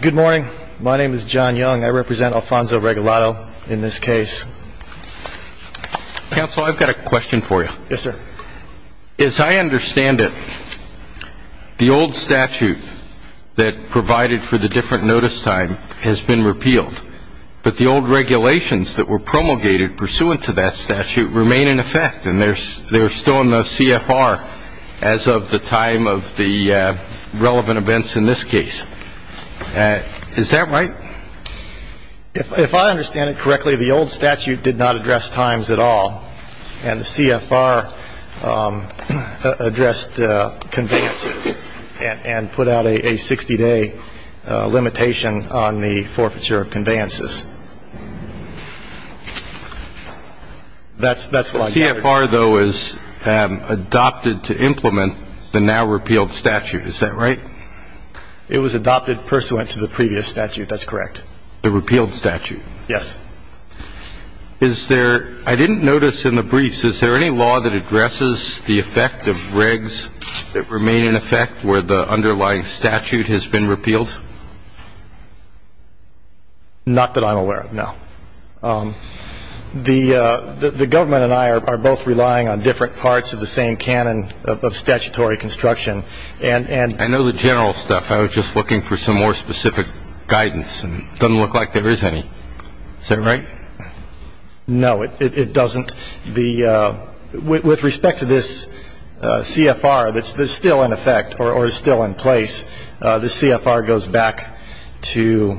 Good morning. My name is John Young. I represent Alfonso Regalado in this case. Counsel, I've got a question for you. Yes, sir. As I understand it, the old statute that provided for the different notice time has been repealed, but the old regulations that were promulgated pursuant to that statute remain in effect, and they're still in the CFR as of the time of the relevant events in this case. Is that right? If I understand it correctly, the old statute did not address times at all, and the CFR addressed conveyances and put out a 60-day limitation on the forfeiture of conveyances. That's what I gather. The CFR, though, is adopted to implement the now-repealed statute. Is that right? It was adopted pursuant to the previous statute. That's correct. The repealed statute. Yes. Is there – I didn't notice in the briefs, is there any law that addresses the effect of regs that remain in effect where the underlying statute has been repealed? Not that I'm aware of, no. The government and I are both relying on different parts of the same canon of statutory construction, and – I know the general stuff. I was just looking for some more specific guidance, and it doesn't look like there is any. Is that right? No, it doesn't. With respect to this CFR that's still in effect or is still in place, this CFR goes back to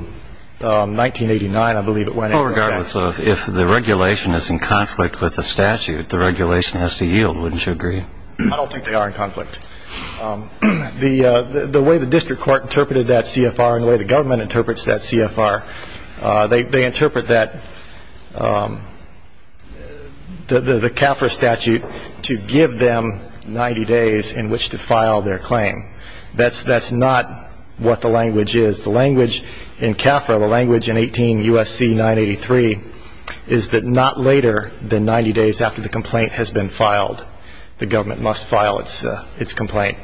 1989, I believe it went. Well, regardless of if the regulation is in conflict with the statute, the regulation has to yield, wouldn't you agree? I don't think they are in conflict. The way the district court interpreted that CFR and the way the government interprets that CFR, they interpret that the CAFRA statute to give them 90 days in which to file their claim. That's not what the language is. The language in CAFRA, the language in 18 U.S.C. 983 is that not later than 90 days after the complaint has been filed, the government must file its complaint.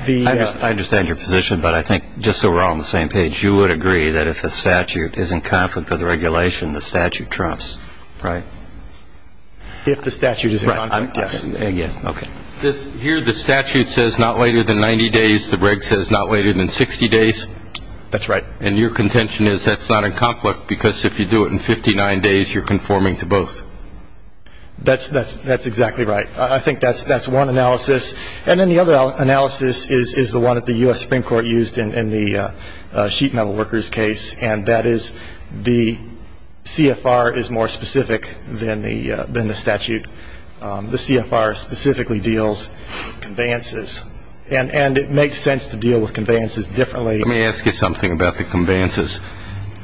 I understand your position, but I think just so we're all on the same page, you would agree that if a statute is in conflict with the regulation, the statute trumps. Right. If the statute is in conflict, yes. Here the statute says not later than 90 days. The reg says not later than 60 days. That's right. And your contention is that's not in conflict because if you do it in 59 days, you're conforming to both. That's exactly right. I think that's one analysis. And then the other analysis is the one that the U.S. Supreme Court used in the sheet metal workers case, and that is the CFR is more specific than the statute. The CFR specifically deals with conveyances, and it makes sense to deal with conveyances differently. Let me ask you something about the conveyances.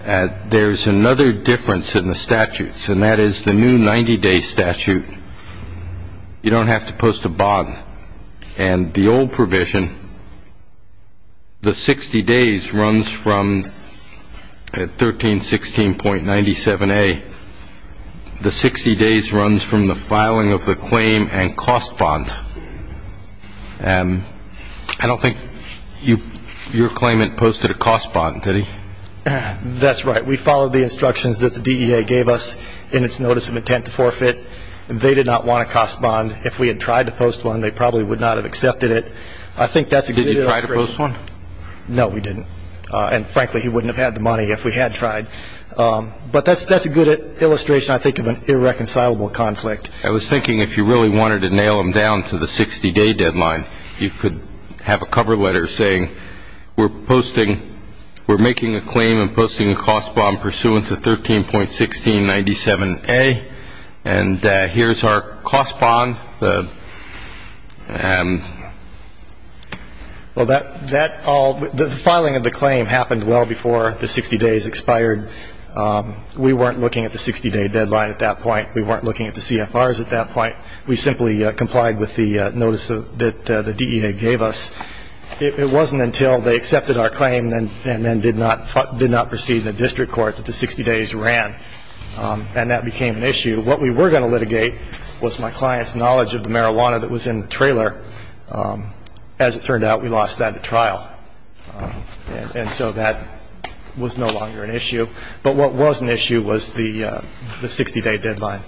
There's another difference in the statutes, and that is the new 90-day statute. You don't have to post a bond. And the old provision, the 60 days runs from 1316.97a. The 60 days runs from the filing of the claim and cost bond. I don't think your claimant posted a cost bond, did he? That's right. We followed the instructions that the DEA gave us in its notice of intent to forfeit. They did not want a cost bond. If we had tried to post one, they probably would not have accepted it. I think that's a good illustration. Did you try to post one? No, we didn't. And, frankly, he wouldn't have had the money if we had tried. But that's a good illustration, I think, of an irreconcilable conflict. I was thinking if you really wanted to nail them down to the 60-day deadline, you could have a cover letter saying, we're making a claim and posting a cost bond pursuant to 13.1697a, and here's our cost bond. Well, the filing of the claim happened well before the 60 days expired. We weren't looking at the 60-day deadline at that point. We weren't looking at the CFRs at that point. We simply complied with the notice that the DEA gave us. It wasn't until they accepted our claim and then did not proceed in the district court that the 60 days ran, and that became an issue. What we were going to litigate was my client's knowledge of the marijuana that was in the trailer. As it turned out, we lost that at trial, and so that was no longer an issue. But what was an issue was the 60-day deadline.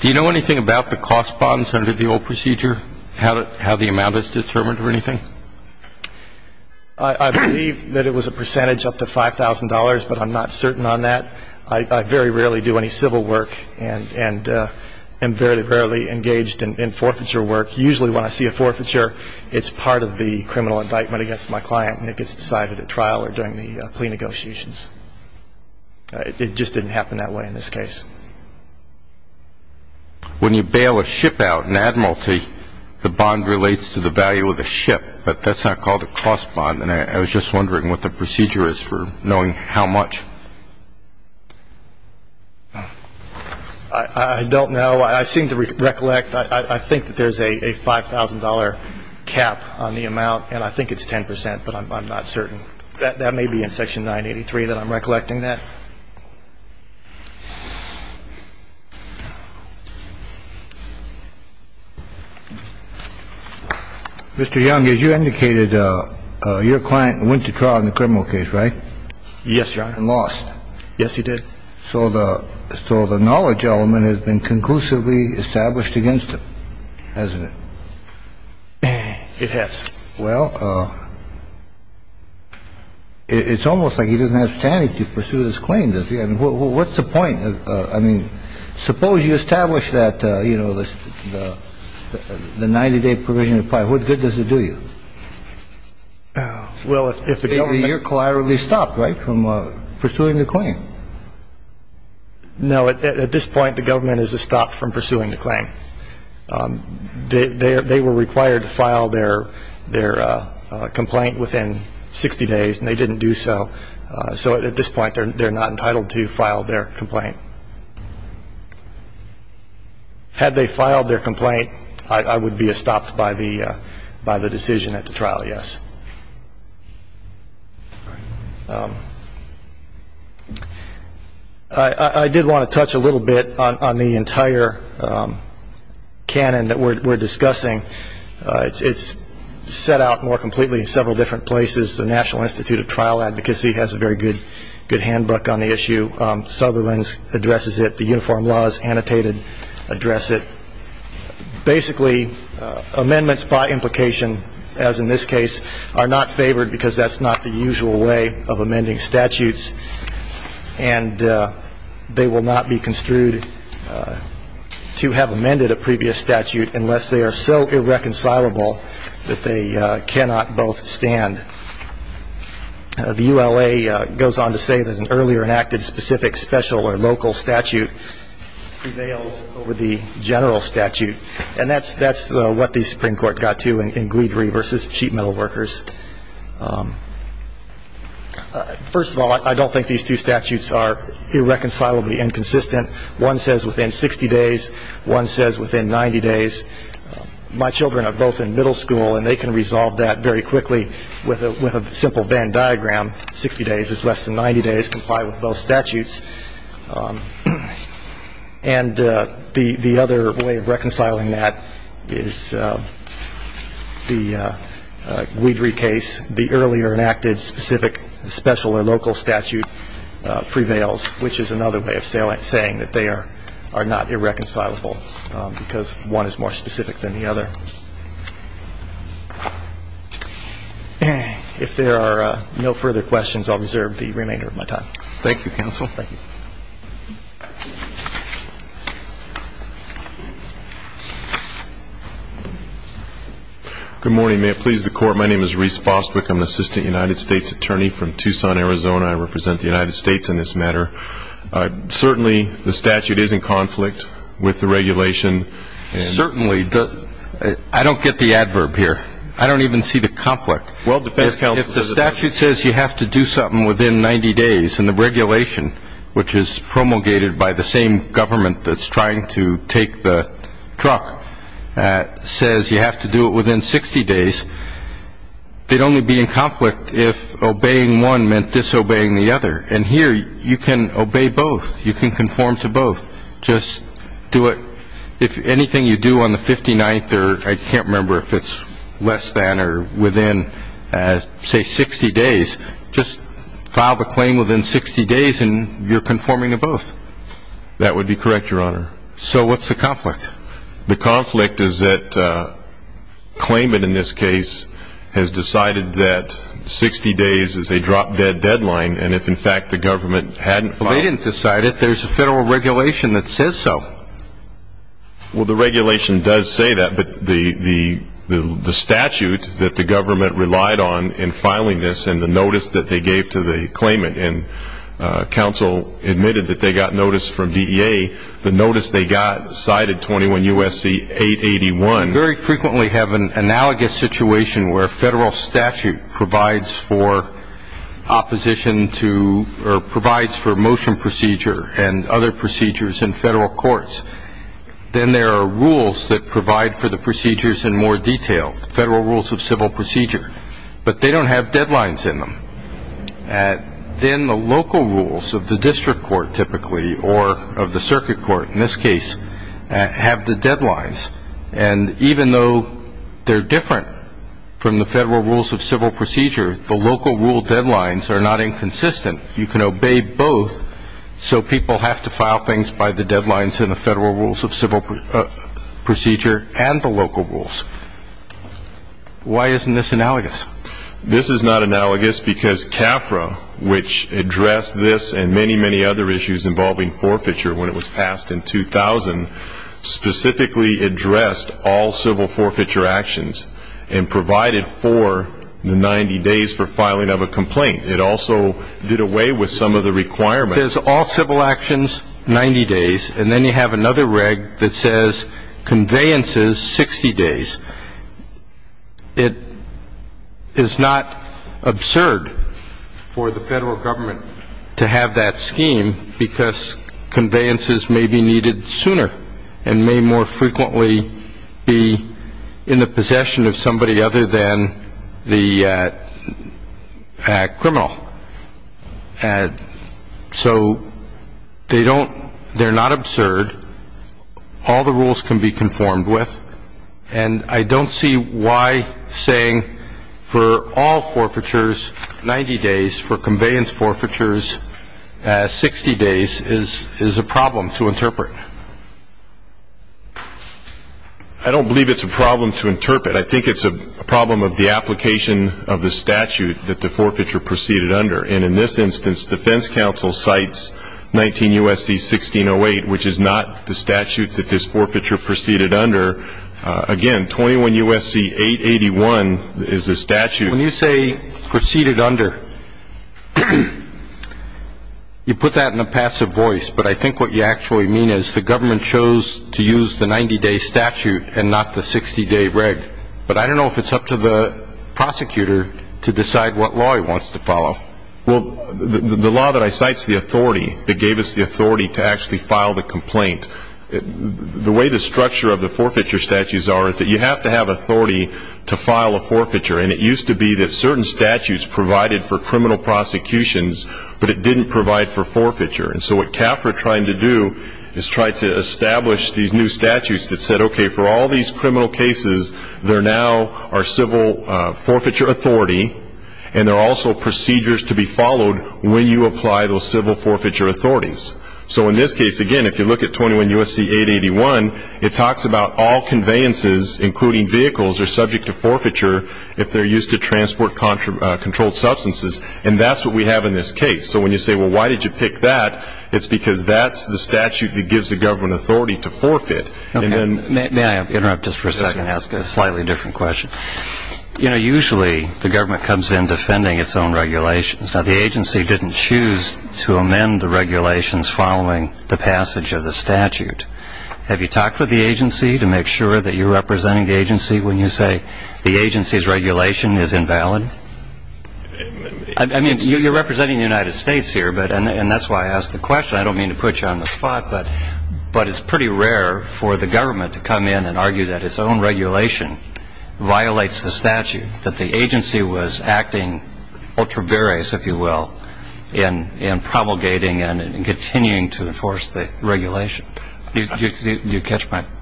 Do you know anything about the cost bonds under the old procedure, how the amount is determined or anything? I believe that it was a percentage up to $5,000, but I'm not certain on that. I very rarely do any civil work and am very rarely engaged in forfeiture work. Usually when I see a forfeiture, it's part of the criminal indictment against my client, and it gets decided at trial or during the plea negotiations. It just didn't happen that way in this case. When you bail a ship out in Admiralty, the bond relates to the value of the ship, but that's not called a cost bond, and I was just wondering what the procedure is for knowing how much. I don't know. I seem to recollect I think that there's a $5,000 cap on the amount, and I think it's 10%, but I'm not certain. That may be in Section 983 that I'm recollecting that. Mr. Young, as you indicated, your client went to trial in the criminal case, right? Yes, Your Honor. And lost. Yes, he did. So the knowledge element has been conclusively established against him, hasn't it? It has. Well, it's almost like he doesn't have standing to pursue this claim, does he? I mean, what's the point? I mean, suppose you establish that, you know, the 90-day provision of the part. What good does it do you? Well, if the government. You're collaterally stopped, right, from pursuing the claim? No. At this point, the government is a stop from pursuing the claim. They were required to file their complaint within 60 days, and they didn't do so. So at this point, they're not entitled to file their complaint. Had they filed their complaint, I would be stopped by the decision at the trial, yes. I did want to touch a little bit on the entire canon that we're discussing. It's set out more completely in several different places. The National Institute of Trial Advocacy has a very good handbook on the issue. Sutherland addresses it. The Uniform Law is annotated, address it. Basically, amendments by implication, as in this case, are not favored because that's not the usual way of amending statutes, and they will not be construed to have amended a previous statute unless they are so irreconcilable that they cannot both stand. The ULA goes on to say that an earlier enacted specific special or local statute prevails over the general statute, and that's what the Supreme Court got to in Guidry v. Sheet Metal Workers. First of all, I don't think these two statutes are irreconcilably inconsistent. One says within 60 days. One says within 90 days. My children are both in middle school, and they can resolve that very quickly with a simple Venn diagram, 60 days is less than 90 days, comply with both statutes. And the other way of reconciling that is the Guidry case, the earlier enacted specific special or local statute prevails, which is another way of saying that they are not irreconcilable because one is more specific than the other. If there are no further questions, I'll reserve the remainder of my time. Thank you, counsel. Thank you. Good morning. May it please the Court. My name is Reese Fosbick. I'm an assistant United States attorney from Tucson, Arizona. I represent the United States in this matter. Certainly the statute is in conflict with the regulation. Certainly. I don't get the adverb here. I don't even see the conflict. Well, defense counsel. If the statute says you have to do something within 90 days and the regulation, which is promulgated by the same government that's trying to take the truck, says you have to do it within 60 days, they'd only be in conflict if obeying one meant disobeying the other. And here you can obey both. You can conform to both. Just do it. If anything you do on the 59th or I can't remember if it's less than or within, say, 60 days, just file the claim within 60 days and you're conforming to both. So what's the conflict? The conflict is that claimant in this case has decided that 60 days is a drop-dead deadline, and if, in fact, the government hadn't filed it. Well, they didn't decide it. There's a federal regulation that says so. Well, the regulation does say that, but the statute that the government relied on in filing this and the notice that they gave to the claimant, and counsel admitted that they got notice from DEA, the notice they got cited 21 U.S.C. 881. We very frequently have an analogous situation where federal statute provides for opposition to or provides for motion procedure and other procedures in federal courts. Then there are rules that provide for the procedures in more detail, federal rules of civil procedure, but they don't have deadlines in them. Then the local rules of the district court typically, or of the circuit court in this case, have the deadlines, and even though they're different from the federal rules of civil procedure, the local rule deadlines are not inconsistent. You can obey both, so people have to file things by the deadlines in the federal rules of civil procedure and the local rules. Why isn't this analogous? This is not analogous because CAFRA, which addressed this and many, many other issues involving forfeiture when it was passed in 2000, specifically addressed all civil forfeiture actions and provided for the 90 days for filing of a complaint. It also did away with some of the requirements. It says all civil actions, 90 days, and then you have another reg that says conveyances, 60 days. It is not absurd for the federal government to have that scheme because conveyances may be needed sooner and may more frequently be in the possession of somebody other than the criminal. So they're not absurd. All the rules can be conformed with, and I don't see why saying for all forfeitures 90 days, for conveyance forfeitures 60 days, is a problem to interpret. I don't believe it's a problem to interpret. I think it's a problem of the application of the statute that the forfeiture proceeded under. And in this instance, defense counsel cites 19 U.S.C. 1608, which is not the statute that this forfeiture proceeded under. Again, 21 U.S.C. 881 is the statute. When you say proceeded under, you put that in a passive voice, but I think what you actually mean is the government chose to use the 90-day statute and not the 60-day reg. But I don't know if it's up to the prosecutor to decide what law he wants to follow. Well, the law that I cite is the authority that gave us the authority to actually file the complaint. The way the structure of the forfeiture statutes are is that you have to have authority to file a forfeiture, and it used to be that certain statutes provided for criminal prosecutions, but it didn't provide for forfeiture. And so what CAFR tried to do is try to establish these new statutes that said, okay, for all these criminal cases, there now are civil forfeiture authority, and there are also procedures to be followed when you apply those civil forfeiture authorities. So in this case, again, if you look at 21 U.S.C. 881, it talks about all conveyances, including vehicles, are subject to forfeiture if they're used to transport controlled substances, and that's what we have in this case. So when you say, well, why did you pick that, it's because that's the statute that gives the government authority to forfeit. May I interrupt just for a second and ask a slightly different question? You know, usually the government comes in defending its own regulations. Now, the agency didn't choose to amend the regulations following the passage of the statute. Have you talked with the agency to make sure that you're representing the agency when you say the agency's regulation is invalid? I mean, you're representing the United States here, and that's why I asked the question. I don't mean to put you on the spot, but it's pretty rare for the government to come in and argue that its own regulation violates the statute, that the agency was acting ultra various, if you will, in promulgating and continuing to enforce the regulation. Do you catch my point?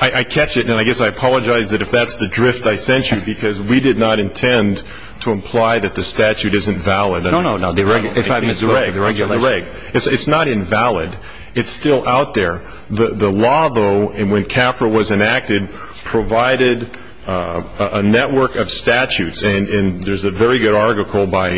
I catch it, and I guess I apologize if that's the drift I sent you, because we did not intend to imply that the statute isn't valid. No, no, no. It's not invalid. It's still out there. The law, though, when CAFRA was enacted, provided a network of statutes, and there's a very good article by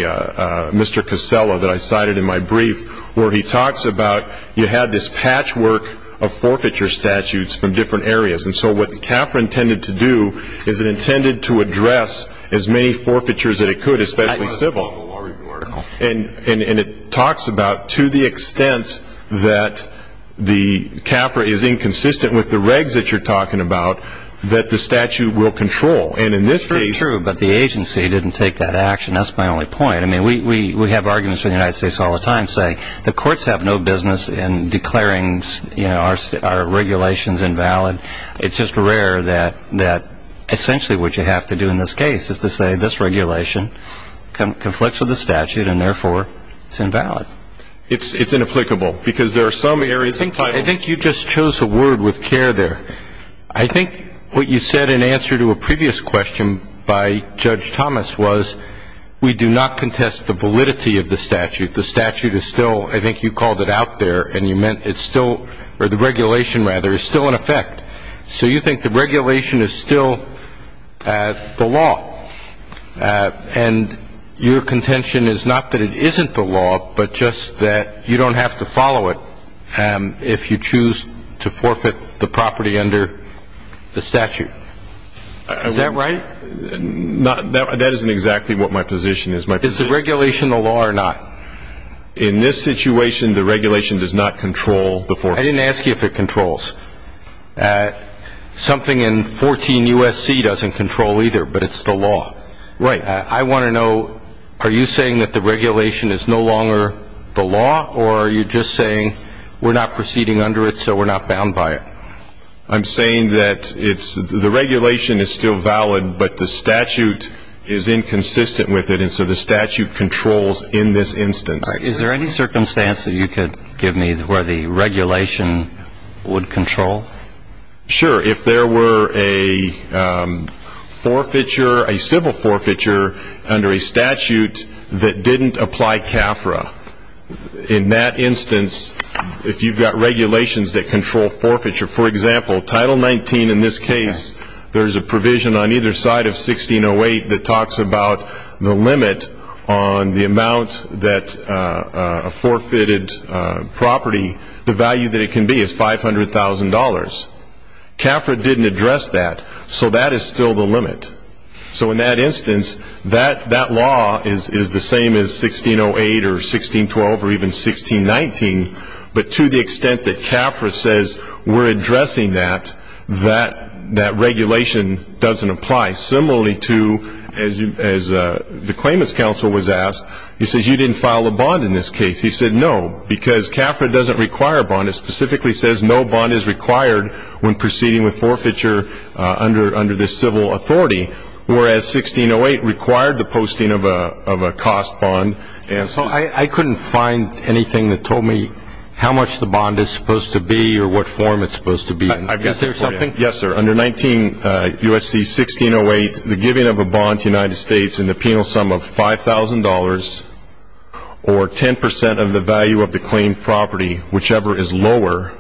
Mr. Casella that I cited in my brief, where he talks about you had this patchwork of forfeiture statutes from different areas, and so what CAFRA intended to do is it intended to address as many forfeitures as it could, especially civil. And it talks about to the extent that the CAFRA is inconsistent with the regs that you're talking about, that the statute will control, and in this case... That's true, but the agency didn't take that action. That's my only point. I mean, we have arguments in the United States all the time saying the courts have no business in declaring our regulations invalid. It's just rare that essentially what you have to do in this case is to say this regulation conflicts with the statute, and therefore it's invalid. It's inapplicable, because there are some areas... I think you just chose a word with care there. I think what you said in answer to a previous question by Judge Thomas was we do not contest the validity of the statute. The statute is still, I think you called it out there, and you meant it's still, or the regulation, rather, is still in effect. So you think the regulation is still the law, and your contention is not that it isn't the law, but just that you don't have to follow it if you choose to forfeit the property under the statute. Is that right? That isn't exactly what my position is. Is the regulation the law or not? In this situation, the regulation does not control the forfeit. I didn't ask you if it controls. Something in 14 U.S.C. doesn't control either, but it's the law. Right. I want to know, are you saying that the regulation is no longer the law, or are you just saying we're not proceeding under it, so we're not bound by it? I'm saying that the regulation is still valid, but the statute is inconsistent with it, and so the statute controls in this instance. Is there any circumstance that you could give me where the regulation would control? Sure, if there were a forfeiture, a civil forfeiture, under a statute that didn't apply CAFRA. In that instance, if you've got regulations that control forfeiture, for example, Title 19 in this case, there's a provision on either side of 1608 that talks about the limit on the amount that a forfeited property, the value that it can be is $500,000. CAFRA didn't address that, so that is still the limit. So in that instance, that law is the same as 1608 or 1612 or even 1619, but to the extent that CAFRA says we're addressing that, that regulation doesn't apply. Similarly to, as the claimant's counsel was asked, he says you didn't file a bond in this case. He said no, because CAFRA doesn't require a bond. It specifically says no bond is required when proceeding with forfeiture under this civil authority, whereas 1608 required the posting of a cost bond. So I couldn't find anything that told me how much the bond is supposed to be or what form it's supposed to be in. Is there something? Yes, sir. Under USC 1608, the giving of a bond to the United States in the penal sum of $5,000 or 10 percent of the value of the claimed property, whichever is lower,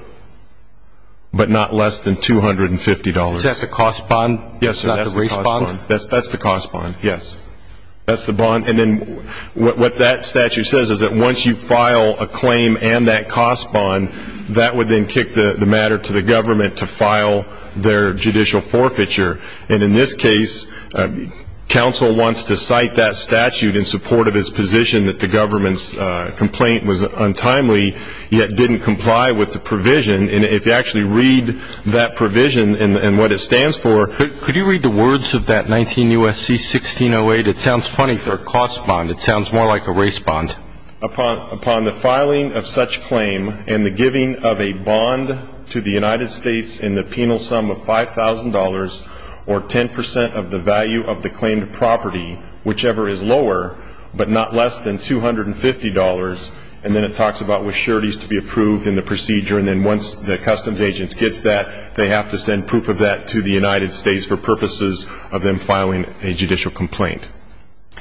but not less than $250. Is that the cost bond? Yes, sir, that's the cost bond. Not the raised bond? That's the cost bond, yes. That's the bond. And then what that statute says is that once you file a claim and that cost bond, that would then kick the matter to the government to file their judicial forfeiture. And in this case, counsel wants to cite that statute in support of his position that the government's complaint was untimely, yet didn't comply with the provision. And if you actually read that provision and what it stands for. Could you read the words of that 19 U.S.C. 1608? It sounds funny for a cost bond. It sounds more like a raised bond. Upon the filing of such claim and the giving of a bond to the United States in the penal sum of $5,000 or 10 percent of the value of the claimed property, whichever is lower, but not less than $250. And then it talks about with sureties to be approved in the procedure. And then once the customs agent gets that, they have to send proof of that to the United States for purposes of them filing a judicial complaint.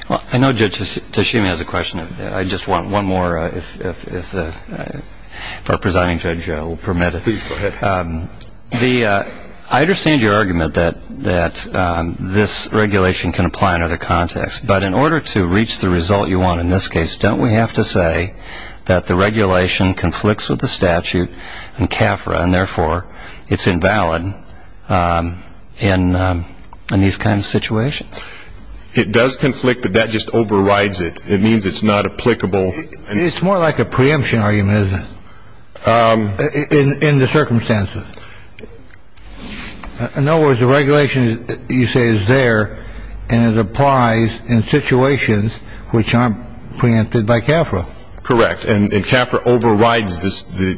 I know Judge Tashimi has a question. I just want one more if our presiding judge will permit it. Please go ahead. I understand your argument that this regulation can apply in other contexts. But in order to reach the result you want in this case, don't we have to say that the regulation conflicts with the statute in CAFRA and therefore it's invalid in these kinds of situations? It does conflict, but that just overrides it. It means it's not applicable. It's more like a preemption argument, isn't it, in the circumstances? In other words, the regulation you say is there and it applies in situations which aren't preempted by CAFRA. Correct. And CAFRA overrides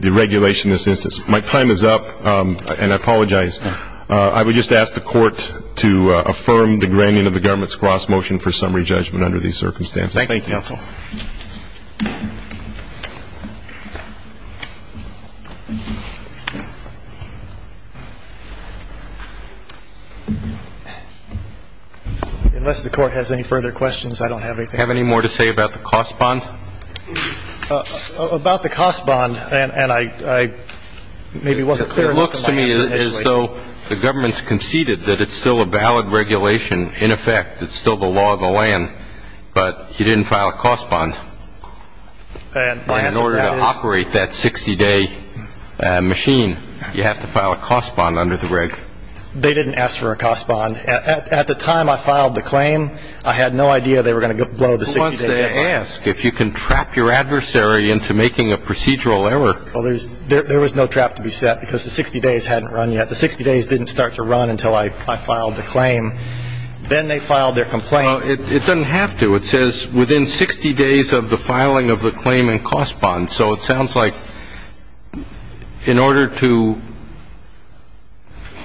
the regulation in this instance. My time is up, and I apologize. I would just ask the Court to affirm the grandian of the government's cross motion for summary judgment under these circumstances. Thank you. Thank you, counsel. Unless the Court has any further questions, I don't have anything. Do you have any more to say about the cost bond? About the cost bond, and I maybe wasn't clear enough. It looks to me as though the government's conceded that it's still a valid regulation. In effect, it's still the law of the land, but you didn't file a cost bond. In order to operate that 60-day machine, you have to file a cost bond under the reg. They didn't ask for a cost bond. At the time I filed the claim, I had no idea they were going to blow the 60-day deadline. Who wants to ask if you can trap your adversary into making a procedural error? Well, there was no trap to be set because the 60 days hadn't run yet. The 60 days didn't start to run until I filed the claim. Then they filed their complaint. Well, it doesn't have to. It says within 60 days of the filing of the claim and cost bond. So it sounds like in order to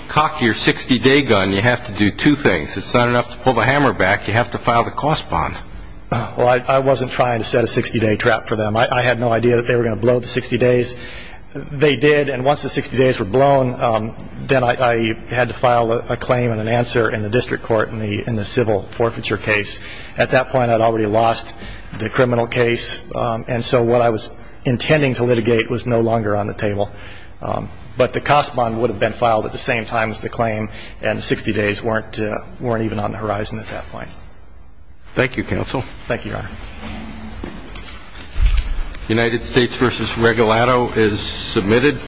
cock your 60-day gun, you have to do two things. It's not enough to pull the hammer back. You have to file the cost bond. Well, I wasn't trying to set a 60-day trap for them. I had no idea that they were going to blow the 60 days. They did. And once the 60 days were blown, then I had to file a claim and an answer in the district court in the civil forfeiture case. At that point, I'd already lost the criminal case. And so what I was intending to litigate was no longer on the table. But the cost bond would have been filed at the same time as the claim, and the 60 days weren't even on the horizon at that point. Thank you, counsel. Thank you, Your Honor. United States v. Regalado is submitted.